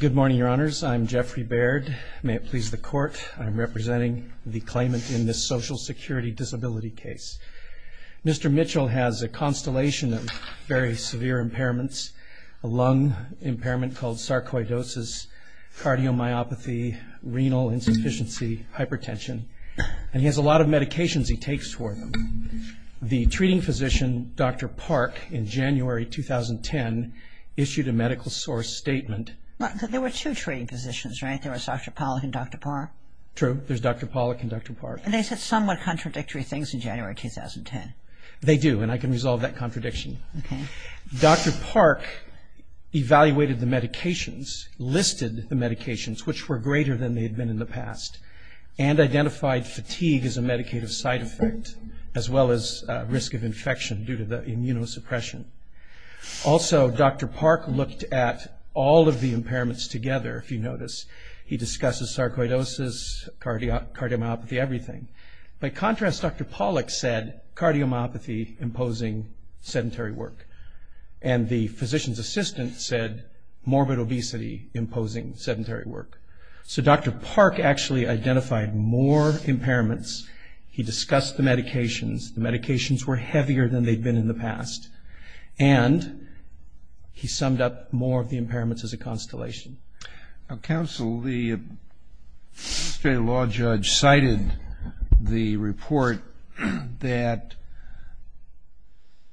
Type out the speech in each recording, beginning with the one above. Good morning, your honors. I'm Jeffrey Baird. May it please the court, I'm representing the claimant in this Social Security Disability case. Mr. Mitchell has a constellation of very severe impairments, a lung impairment called sarcoidosis, cardiomyopathy, renal insufficiency, hypertension, and he has a lot of medications he takes for them. The treating physician, Dr. Park, in January 2010 issued a medical source statement. There were two treating physicians, right? There was Dr. Pollock and Dr. Park? True. There's Dr. Pollock and Dr. Park. And they said somewhat contradictory things in January 2010. They do, and I can resolve that contradiction. Okay. Dr. Park evaluated the medications, listed the medications, which were greater than they had been in the past, and identified fatigue as a medicative side effect, as well as risk of infection due to the immunosuppression. Also Dr. Park looked at all of the impairments together, if you notice. He discusses sarcoidosis, cardiomyopathy, everything. By contrast, Dr. Pollock said cardiomyopathy imposing sedentary work, and the physician's assistant said morbid obesity imposing sedentary work. So Dr. Park actually identified more impairments. He discussed the medications. The medications were heavier than they'd been in the past, and he summed up more of the impairments as a constellation. Now, counsel, the state law judge cited the report that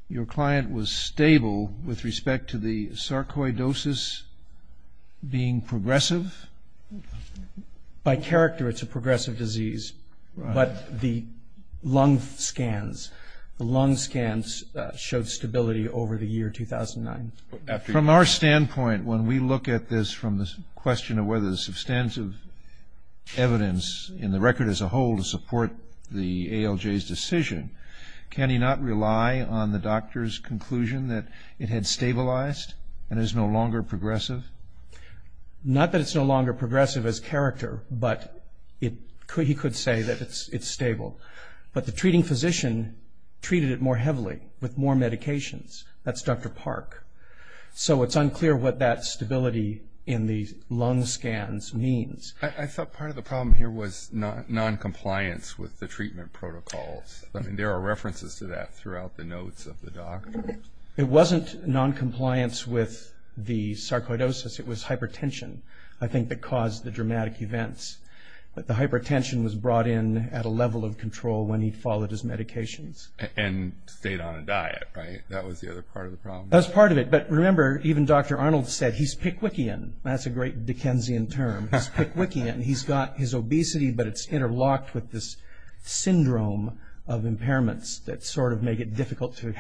your client was stable with respect to the sarcoidosis being progressive? By character, it's a progressive disease, but the lung scans, the lung scans showed stability over the year 2009. From our standpoint, when we look at this from the question of whether there's substantive evidence in the record as a whole to support the ALJ's decision, can he not rely on the doctor's conclusion that it had stabilized and is no longer progressive? Not that it's no longer progressive as character, but he could say that it's stable. But the treating physician treated it more heavily with more medications. That's Dr. Park. So it's unclear what that stability in the lung scans means. I thought part of the problem here was noncompliance with the treatment protocols. I mean, there are references to that throughout the notes of the doctor. It wasn't noncompliance with the sarcoidosis. It was hypertension, I think, that caused the dramatic events. But the hypertension was brought in at a level of control when he followed his medications. And stayed on a diet, right? That was the other part of the problem. That was part of it. But remember, even Dr. Arnold said he's Pickwickian. That's a great Dickensian term. He's Pickwickian. He's got his obesity, but it's interlocked with this lack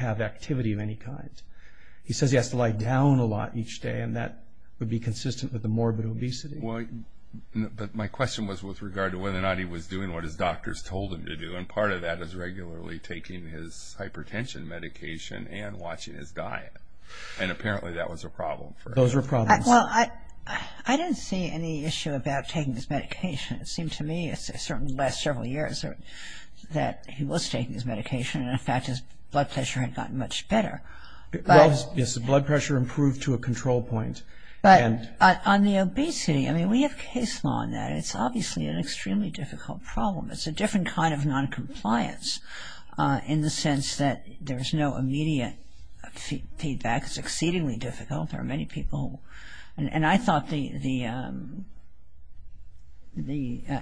of activity of any kind. He says he has to lie down a lot each day, and that would be consistent with the morbid obesity. But my question was with regard to whether or not he was doing what his doctors told him to do. And part of that is regularly taking his hypertension medication and watching his diet. And apparently that was a problem for him. Those were problems. Well, I don't see any issue about taking his medication. It seemed to me in the last several years that he was taking his medication. And in fact, his blood pressure had gotten much better. Well, yes, the blood pressure improved to a control point. But on the obesity, I mean, we have case law on that. It's obviously an extremely difficult problem. It's a different kind of noncompliance in the sense that there's no immediate feedback. It's exceedingly difficult. There are many people. And I thought the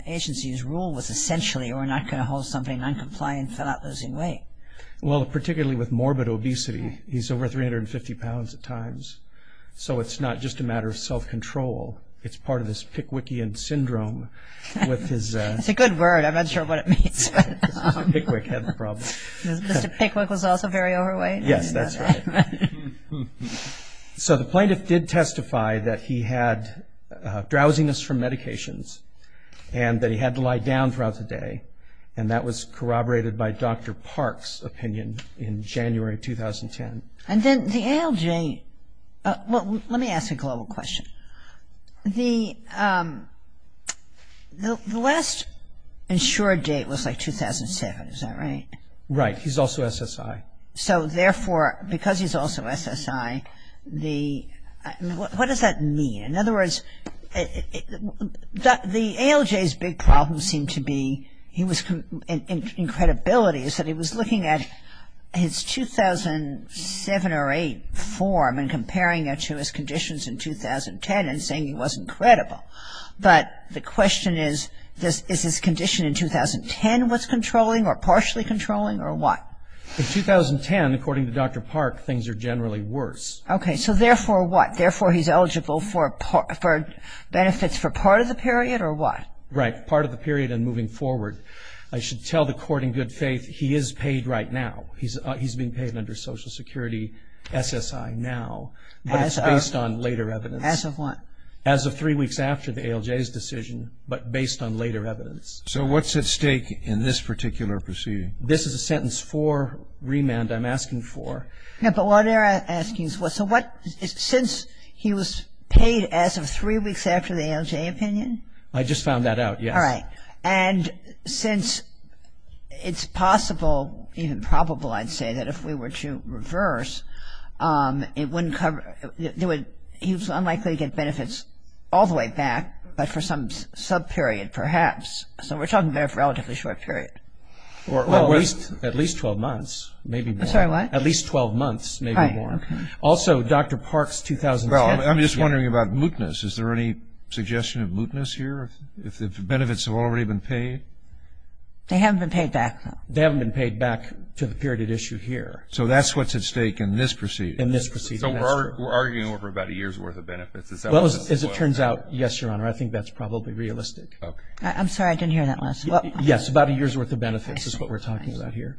agency's rule was essentially, we're not going to hold somebody noncompliant without losing weight. Well, particularly with morbid obesity, he's over 350 pounds at times. So it's not just a matter of self-control. It's part of this Pickwickian syndrome with his... It's a good word. I'm not sure what it means. Mr. Pickwick had the problem. Mr. Pickwick was also very overweight. Yes, that's right. So the plaintiff did testify that he had drowsiness from medications and that he had to lie down throughout the day. And that was corroborated by Dr. Park's opinion in January of 2010. And then the ALJ... Let me ask a global question. The last insured date was like 2007. Is that right? Right. He's also SSI. So therefore, because he's also SSI, the... What does that mean? In other words, the ALJ's big problem seemed to be, he was... In credibility, he said he was looking at his 2007 or 8 form and comparing it to his conditions in 2010 and saying he wasn't credible. But the question is, is his condition in 2010 what's controlling or partially controlling or what? In 2010, according to Dr. Park, things are generally worse. Okay. So therefore, what? Therefore, he's eligible for benefits for part of the period or what? Right. Part of the period and moving forward. I should tell the court in good faith, he is paid right now. He's being paid under Social Security SSI now, but it's based on later evidence. As of what? As of three weeks after the ALJ's decision, but based on later evidence. So what's at stake in this particular proceeding? This is a sentence for remand I'm asking for. Yeah, but what are you asking for? So what... Since he was paid as of three weeks after the ALJ opinion? I just found that out, yes. All right. And since it's possible, even probable I'd say, that if we were to reverse, it wouldn't cover... he was unlikely to get benefits all the way back, but for some sub-period perhaps. So we're talking about a relatively short period. Well, at least 12 months, maybe more. Sorry, what? At least 12 months, maybe more. Also, Dr. Park's 2010... I'm just wondering about mootness. Is there any suggestion of mootness here? If the benefits have already been paid? They haven't been paid back, though. They haven't been paid back to the period at issue here. So that's what's at stake in this proceeding? In this proceeding, that's true. So we're arguing over about a year's worth of benefits. Is that what's at stake? Well, as it turns out, yes, Your Honor. I think that's probably realistic. Okay. I'm sorry, I didn't hear that last. Yes, about a year's worth of benefits is what we're talking about here.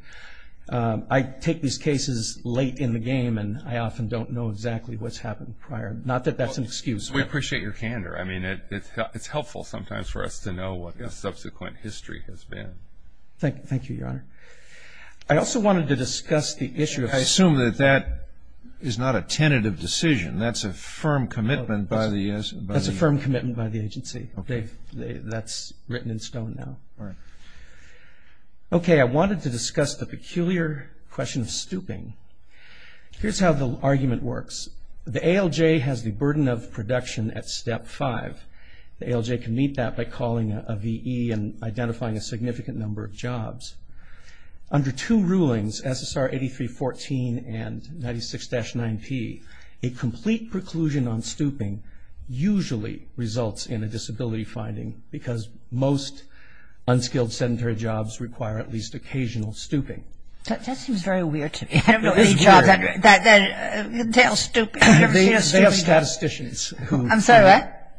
I take these cases late in the game, and I often don't know exactly what's happened prior. Not that that's an excuse. We appreciate your candor. I mean, it's helpful sometimes for us to know what the subsequent history has been. Thank you, Your Honor. I also wanted to discuss the issue of... I assume that that is not a tentative decision. That's a firm commitment by the... That's a firm commitment by the agency. That's written in stone now. Right. Okay, I wanted to discuss the peculiar question of stooping. Here's how the argument works. The ALJ has the burden of production at step five. The ALJ can meet that by calling a VE and identifying a significant number of jobs. Under two rulings, SSR 8314 and 96-9P, a complete preclusion on stooping usually results in a disability finding, because most unskilled sedentary jobs require at least occasional stooping. That seems very weird to me. I don't know any jobs that entail stooping. They have statisticians who work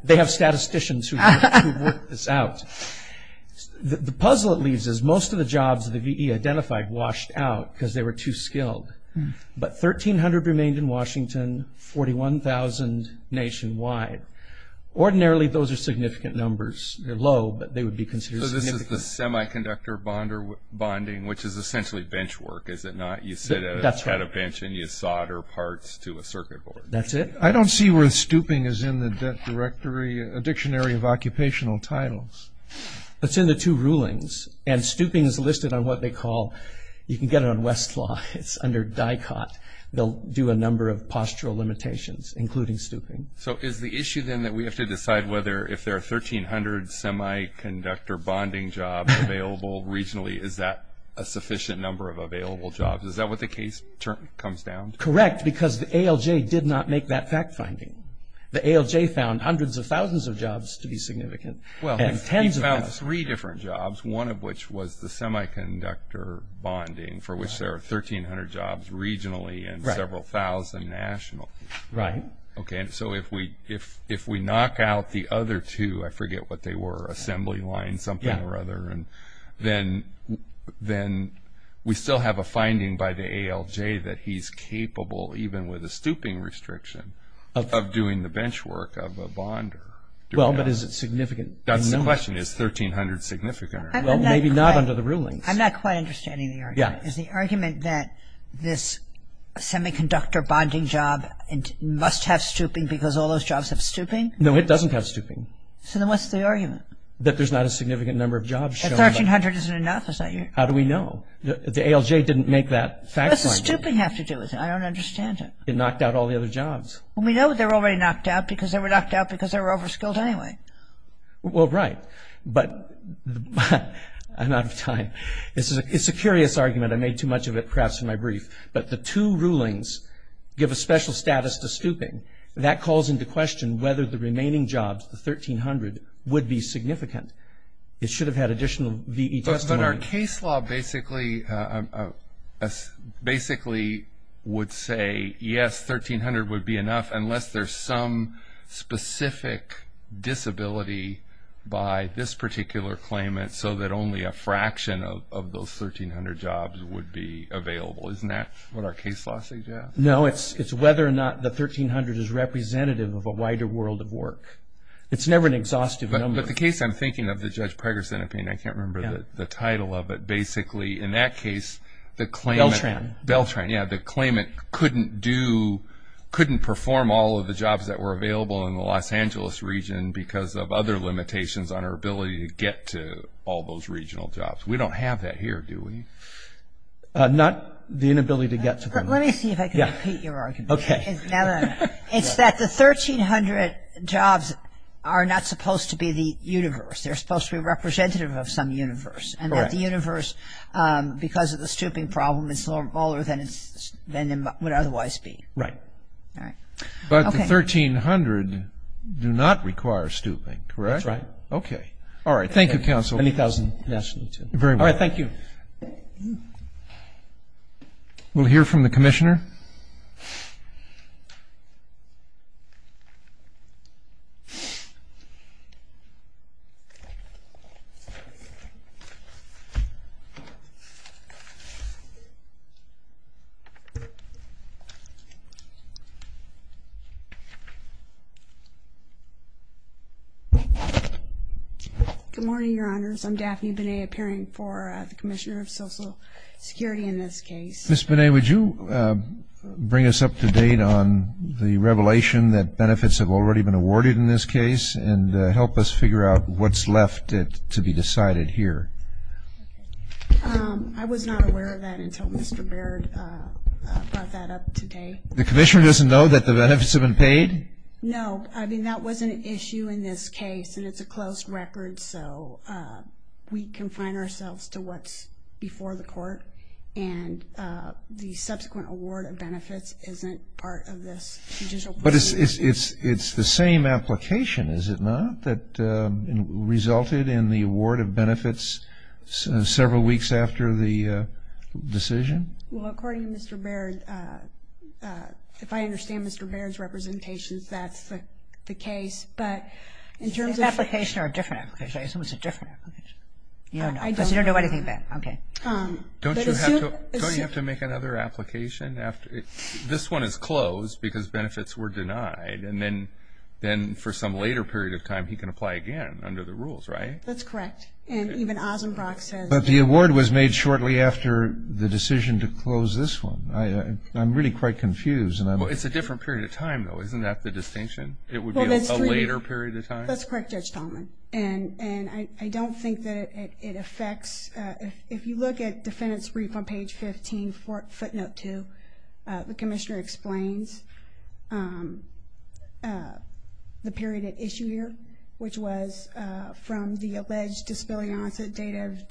this out. The puzzle it leaves is, most of the jobs that the VE identified washed out because they were too skilled. But 1,300 remained in Washington, 41,000 nationwide. Ordinarily, those are significant numbers. They're low, but they would be considered significant. So this is the semiconductor bonding, which is essentially bench work, is it not? You sit at a bench and you solder parts to a circuit board. That's it. I don't see where stooping is in the debt directory, a dictionary of occupational titles. It's in the two rulings. Stooping is listed on what they call... You can get it on Westlaw. It's under DICOT. They'll do a number of postural limitations, including stooping. So is the issue then that we have to decide whether, if there are 1,300 semiconductor bonding jobs available regionally, is that a sufficient number of available jobs? Is that what the case comes down to? Correct, because the ALJ did not make that fact finding. The ALJ found hundreds of thousands of jobs to be significant, and tens of thousands... Well, he found three different jobs, one of which was the semiconductor bonding, for which there are 1,300 jobs regionally and several thousand nationally. Right. Okay, and so if we knock out the other two, I forget what they were, assembly line something or other, then we still have a finding by the ALJ that he's capable, even with a stooping restriction, of doing the bench work of a bonder. Well, but is it significant in numbers? That's the question. Is 1,300 significant or not? Well, maybe not under the rulings. I'm not quite understanding the argument. Is the argument that this semiconductor bonding job must have stooping because all those jobs have stooping? No, it doesn't have stooping. So then what's the argument? That there's not a significant number of jobs shown... That 1,300 isn't enough? How do we know? The ALJ didn't make that fact finding. What does the stooping have to do with it? I don't understand it. It knocked out all the other jobs. Well, we know that they were already knocked out because they were knocked out because they were over-skilled anyway. Well, right. But I'm out of time. It's a curious argument. I made too much of it, perhaps, in my brief. But the two rulings give a special status to stooping. That calls into question whether the remaining jobs, the 1,300, would be significant. It should have had additional V.E. testimony. But our case law basically would say, yes, 1,300 would be enough unless there's some specific disability by this particular claimant so that only a fraction of those 1,300 jobs would be available. Isn't that what our case law suggests? No, it's whether or not the 1,300 is representative of a wider world of work. It's never an exhaustive number. But the case I'm thinking of, the Judge Pregerson opinion, I can't remember the title of it. Beltran. because of other limitations on our ability to get to all those regional jobs. We don't have that here, do we? Not the inability to get to them. Let me see if I can repeat your argument. It's that the 1,300 jobs are not supposed to be the universe. They're supposed to be representative of some universe. And that the universe, because of the stooping problem, is smaller than it would otherwise be. Right. But the 1,300 do not require stooping, correct? That's right. Okay. All right. Thank you, Counsel. And 1,000 nationally, too. Very well. Thank you. We'll hear from the Commissioner. Good morning, Your Honors. I'm Daphne Binet, appearing for the Commissioner of Social Security in this case. Ms. Binet, would you bring us up to date on the revelation that benefits have already been awarded in this case? And help us figure out what's left to be decided here. I was not aware of that until Mr. Baird brought that up today. The Commissioner doesn't know that the benefits have been paid? No. I mean, that wasn't an issue in this case. And it's a closed record. So we confine ourselves to what's before the court. And the subsequent award of benefits isn't part of this judicial procedure. But it's the same application, is it not, that resulted in the award of benefits several weeks after the decision? Well, according to Mr. Baird, if I understand Mr. Baird's representations, that's the case. But in terms of... It's an application or a different application. I assume it's a different application. You don't know. Because you don't know anything about it. Okay. Don't you have to make another application after... This one is closed because benefits were denied. And then for some later period of time, he can apply again under the rules, right? That's correct. And even Ozenbrock says... But the award was made shortly after the decision to close this one. I'm really quite confused. Well, it's a different period of time, though. Isn't that the distinction? It would be a later period of time? That's correct, Judge Tallman. And I don't think that it affects... If you look at defendant's brief on page 15, footnote 2, the commissioner explains the period at issue here, which was from the alleged disability onset date of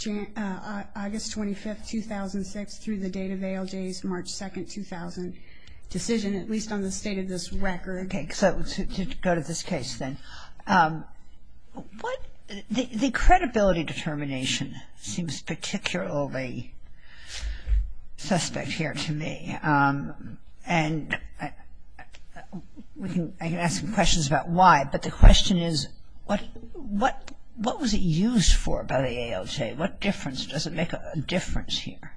August 25, 2006, through the date of ALJ's March 2, 2000 decision, at least on the state of this record. Okay. So to go to this case, then. What... The credibility determination seems particularly suspect here to me. And I can ask some questions about why. But the question is, what was it used for by the ALJ? What difference does it make a difference here?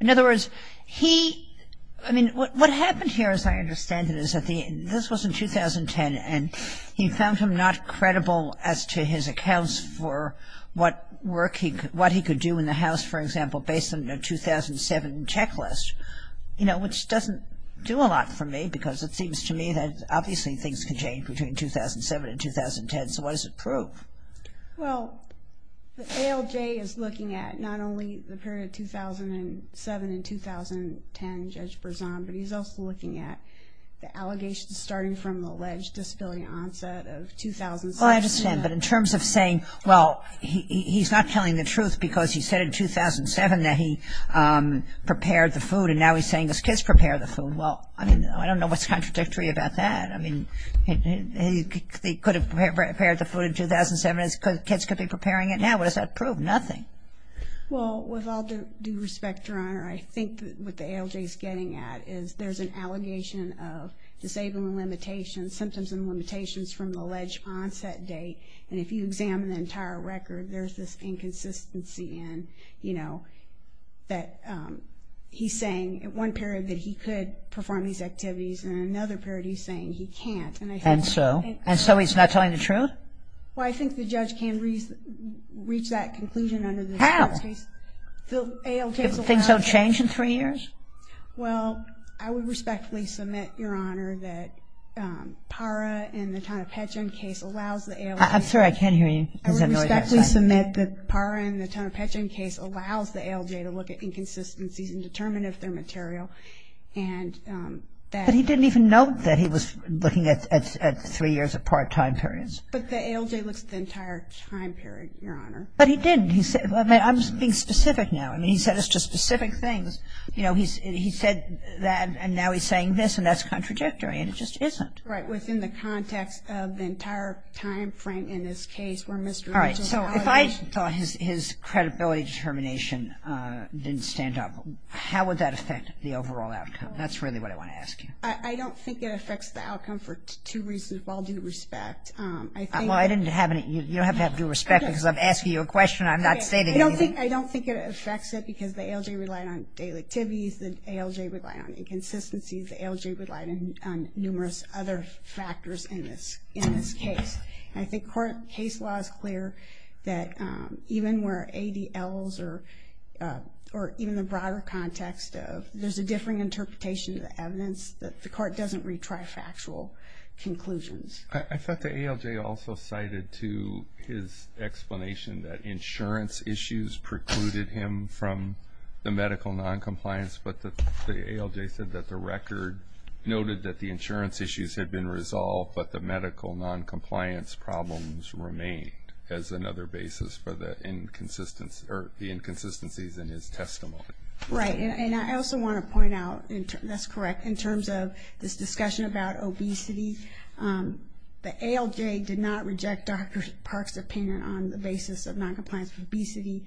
In other words, he... I mean, what happened here, as I understand it, is that this was in 2010, and he found him not credible as to his accounts for what he could do in the house, for example, based on a 2007 checklist. You know, which doesn't do a lot for me, because it seems to me that obviously things can change between 2007 and 2010. So what does it prove? Well, the ALJ is looking at not only the period 2007 and 2010, Judge Berzon, but he's also looking at the allegations starting from the alleged disability onset of 2006. Well, I understand. But in terms of saying, well, he's not telling the truth because he said in 2007 that he prepared the food, and now he's saying his kids prepared the food. Well, I mean, I don't know what's contradictory about that. I mean, he could have prepared the food in 2007. His kids could be preparing it now. What does that prove? Nothing. Well, with all due respect, Your Honor, I think what the ALJ is getting at is there's an allegation of disabling limitations, symptoms and limitations from the alleged onset date. And if you examine the entire record, there's this inconsistency in, you know, that he's saying at one period that he could perform these activities, and in another period he's saying he can't. And so? And so he's not telling the truth? Well, I think the judge can reach that conclusion under this case. How? If things don't change in three years? Well, I would respectfully submit, Your Honor, that PARA in the Tonopetchan case allows the ALJ. I'm sorry, I can't hear you. I would respectfully submit that PARA in the Tonopetchan case allows the ALJ to look at inconsistencies and determine if they're material. And that he didn't even note that he was looking at three years apart time periods. But the ALJ looks at the entire time period, Your Honor. But he did. I'm being specific now. I mean, he set us to specific things. You know, he said that, and now he's saying this, and that's contradictory. And it just isn't. Right, within the context of the entire time frame in this case where Mr. Mitchell's All right, so if I thought his credibility determination didn't stand up, how would that affect the overall outcome? That's really what I want to ask you. I don't think it affects the outcome for two reasons, with all due respect. I think Well, I didn't have any, you don't have to have due respect because I'm asking you a question. I'm not stating anything. I don't think it affects it because the ALJ relied on daily activities. The ALJ relied on inconsistencies. The ALJ relied on numerous other factors in this case. I think court case law is clear that even where ADLs or even the broader context of, there's a differing interpretation of the evidence that the court doesn't retry factual conclusions. I thought the ALJ also cited to his explanation that insurance issues precluded him from the medical noncompliance. But the ALJ said that the record noted that the insurance issues had been resolved, but the medical noncompliance problems remained as another basis for the inconsistencies in his testimony. Right, and I also want to point out, that's correct, in terms of this discussion about obesity, the ALJ did not reject Dr. Park's opinion on the basis of noncompliance with obesity.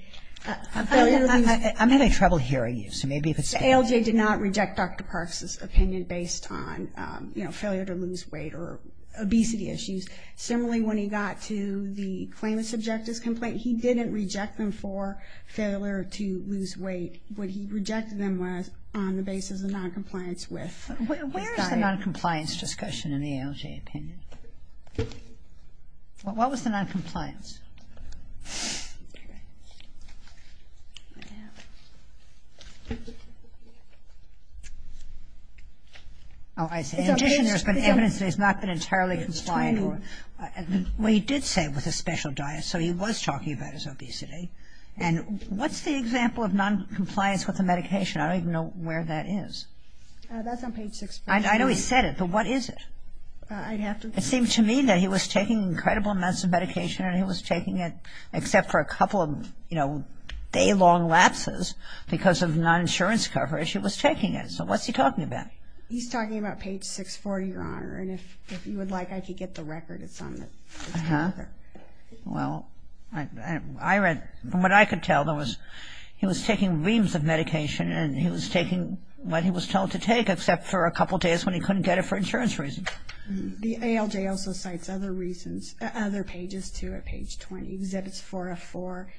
I'm having trouble hearing you. The ALJ did not reject Dr. Park's opinion based on failure to lose weight or obesity issues. Similarly, when he got to the claimant's objectives complaint, he didn't reject them for failure to lose weight. What he rejected them was on the basis of noncompliance with diet. Where's the noncompliance discussion in the ALJ opinion? What was the noncompliance? Oh, I see. In addition, there's been evidence that he's not been entirely compliant. Well, he did say with a special diet, so he was talking about his obesity. And what's the example of noncompliance with the medication? I don't even know where that is. That's on page 6. I know he said it, but what is it? I'd have to. and he was trying to lose weight. He was taking it except for a couple of day-long lapses because of non-insurance coverage. He was taking it. So what's he talking about? He's talking about page 640, Your Honor. And if you would like, I could get the record of some of it. Uh-huh. Well, from what I could tell, he was taking reams of medication and he was taking what he was told to take except for a couple days when he couldn't get it for insurance reasons. The ALJ also cites other pages, too, at page 20. Exhibits 404,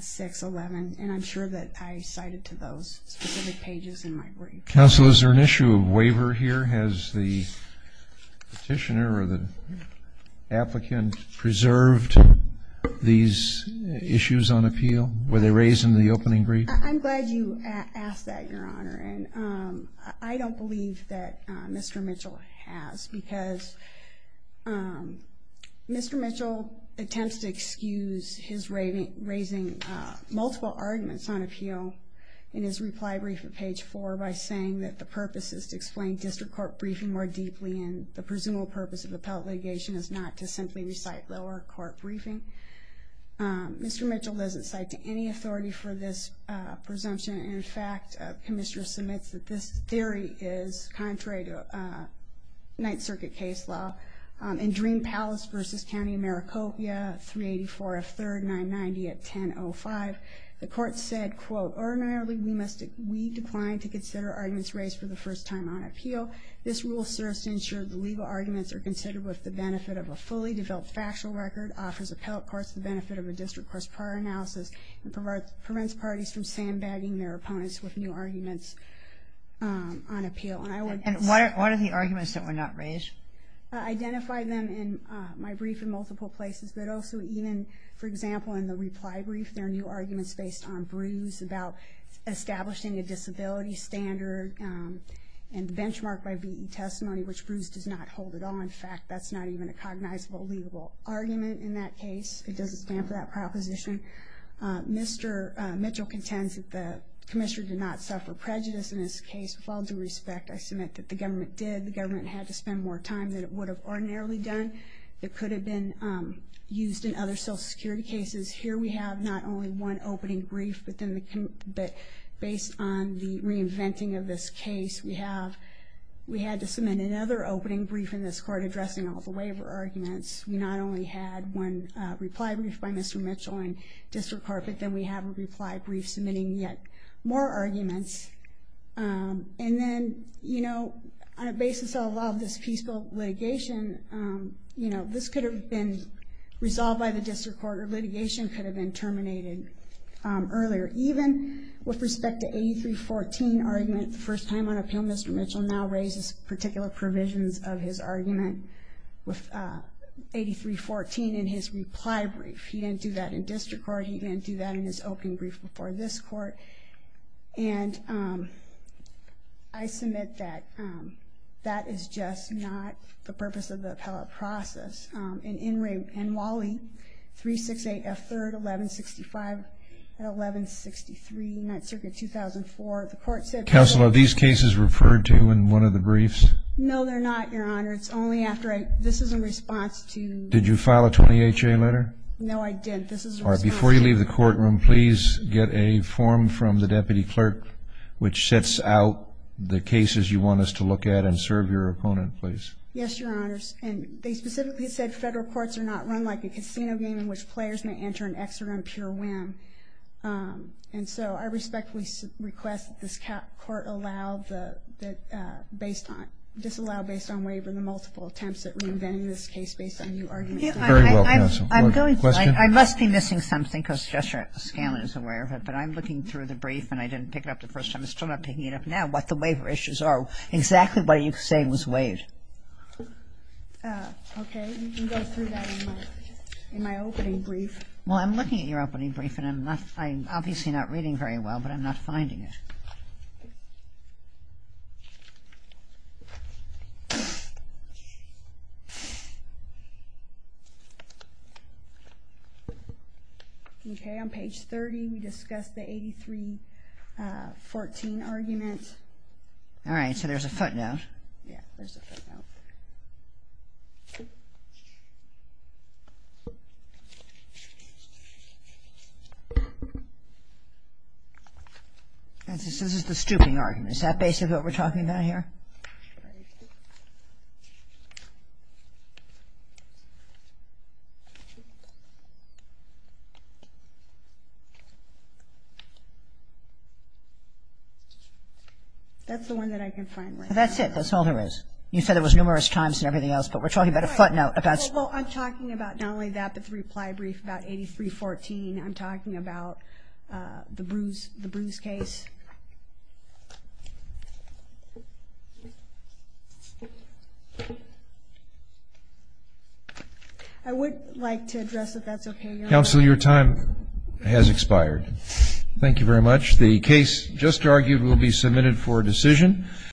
611. And I'm sure that I cited to those specific pages in my brief. Counsel, is there an issue of waiver here? Has the petitioner or the applicant preserved these issues on appeal? Were they raised in the opening brief? I'm glad you asked that, Your Honor. I don't believe that Mr. Mitchell has because Mr. Mitchell attempts to excuse his raising multiple arguments on appeal in his reply brief at page 4 by saying that the purpose is to explain district court briefing more deeply and the presumable purpose of appellate litigation is not to simply recite lower court briefing. Mr. Mitchell doesn't cite to any authority for this presumption. In fact, Commissioner submits that this theory is contrary to Ninth Circuit case law in Dream Palace v. County of Maricopa, 384 F. 3rd, 990 at 1005. The court said, quote, Ordinarily, we decline to consider arguments raised for the first time on appeal. This rule serves to ensure the legal arguments are considered with the benefit of a fully developed factual record, offers appellate courts the benefit of a district court's prior analysis, and prevents parties from sandbagging their opponents with new arguments on appeal. And what are the arguments that were not raised? I identified them in my brief in multiple places, but also even, for example, in the reply brief, there are new arguments based on brews about establishing a disability standard and benchmarked by beating testimony, which brews does not hold at all. In fact, that's not even a cognizable legal argument in that case. It doesn't stand for that proposition. Mr. Mitchell contends that the Commissioner did not suffer prejudice in this case. With all due respect, I submit that the government did. The government had to spend more time than it would have ordinarily done. It could have been used in other Social Security cases. Here we have not only one opening brief, but based on the reinventing of this case, we had to submit another opening brief in this court addressing all the waiver arguments. We not only had one reply brief by Mr. Mitchell in district court, but then we have a reply brief submitting yet more arguments. And then, you know, on a basis of all of this peaceful litigation, you know, this could have been resolved by the district court, or litigation could have been terminated earlier. Even with respect to 8314 argument, the first time on appeal Mr. Mitchell now raises particular provisions of his argument with 8314 in his reply brief. He didn't do that in district court. He didn't do that in his opening brief before this court. And I submit that that is just not the purpose of the appellate process. In Wally, 368 F. 3rd, 1165 and 1163, 9th Circuit, 2004, the court said- Counsel, are these cases referred to in one of the briefs? No, they're not, Your Honor. It's only after I- This is in response to- Did you file a 20HA letter? No, I didn't. This is in response to- All right. Before you leave the courtroom, please get a form from the deputy clerk which sets out the cases you want us to look at and serve your opponent, please. Yes, Your Honors. And they specifically said federal courts are not run like a casino game in which players may enter and exit on pure whim. And so I respectfully request that this court allow the- disallow based on waiver the multiple attempts at reinventing this case based on new arguments. Very well, Counsel. I'm going to- I must be missing something because Justice Scanlon is aware of it, but I'm looking through the brief and I didn't pick it up the first time. I'm still not picking it up now, what the waiver issues are, exactly what you say was waived. Okay. You can go through that in my opening brief. Well, I'm looking at your opening brief and I'm obviously not reading very well, but I'm not finding it. Okay. Okay, on page 30, we discussed the 83-14 argument. All right, so there's a footnote. Yeah, there's a footnote. This is the stooping argument. Is that basically what we're talking about here? That's the one that I can find right now. That's it. That's all there is. There's numerous times and everything else, but we're talking about a footnote. Well, I'm talking about not only that, but the reply brief about 83-14. I'm talking about the Bruce case. I would like to address if that's okay. Counsel, your time has expired. Thank you very much. The case just argued will be submitted for decision.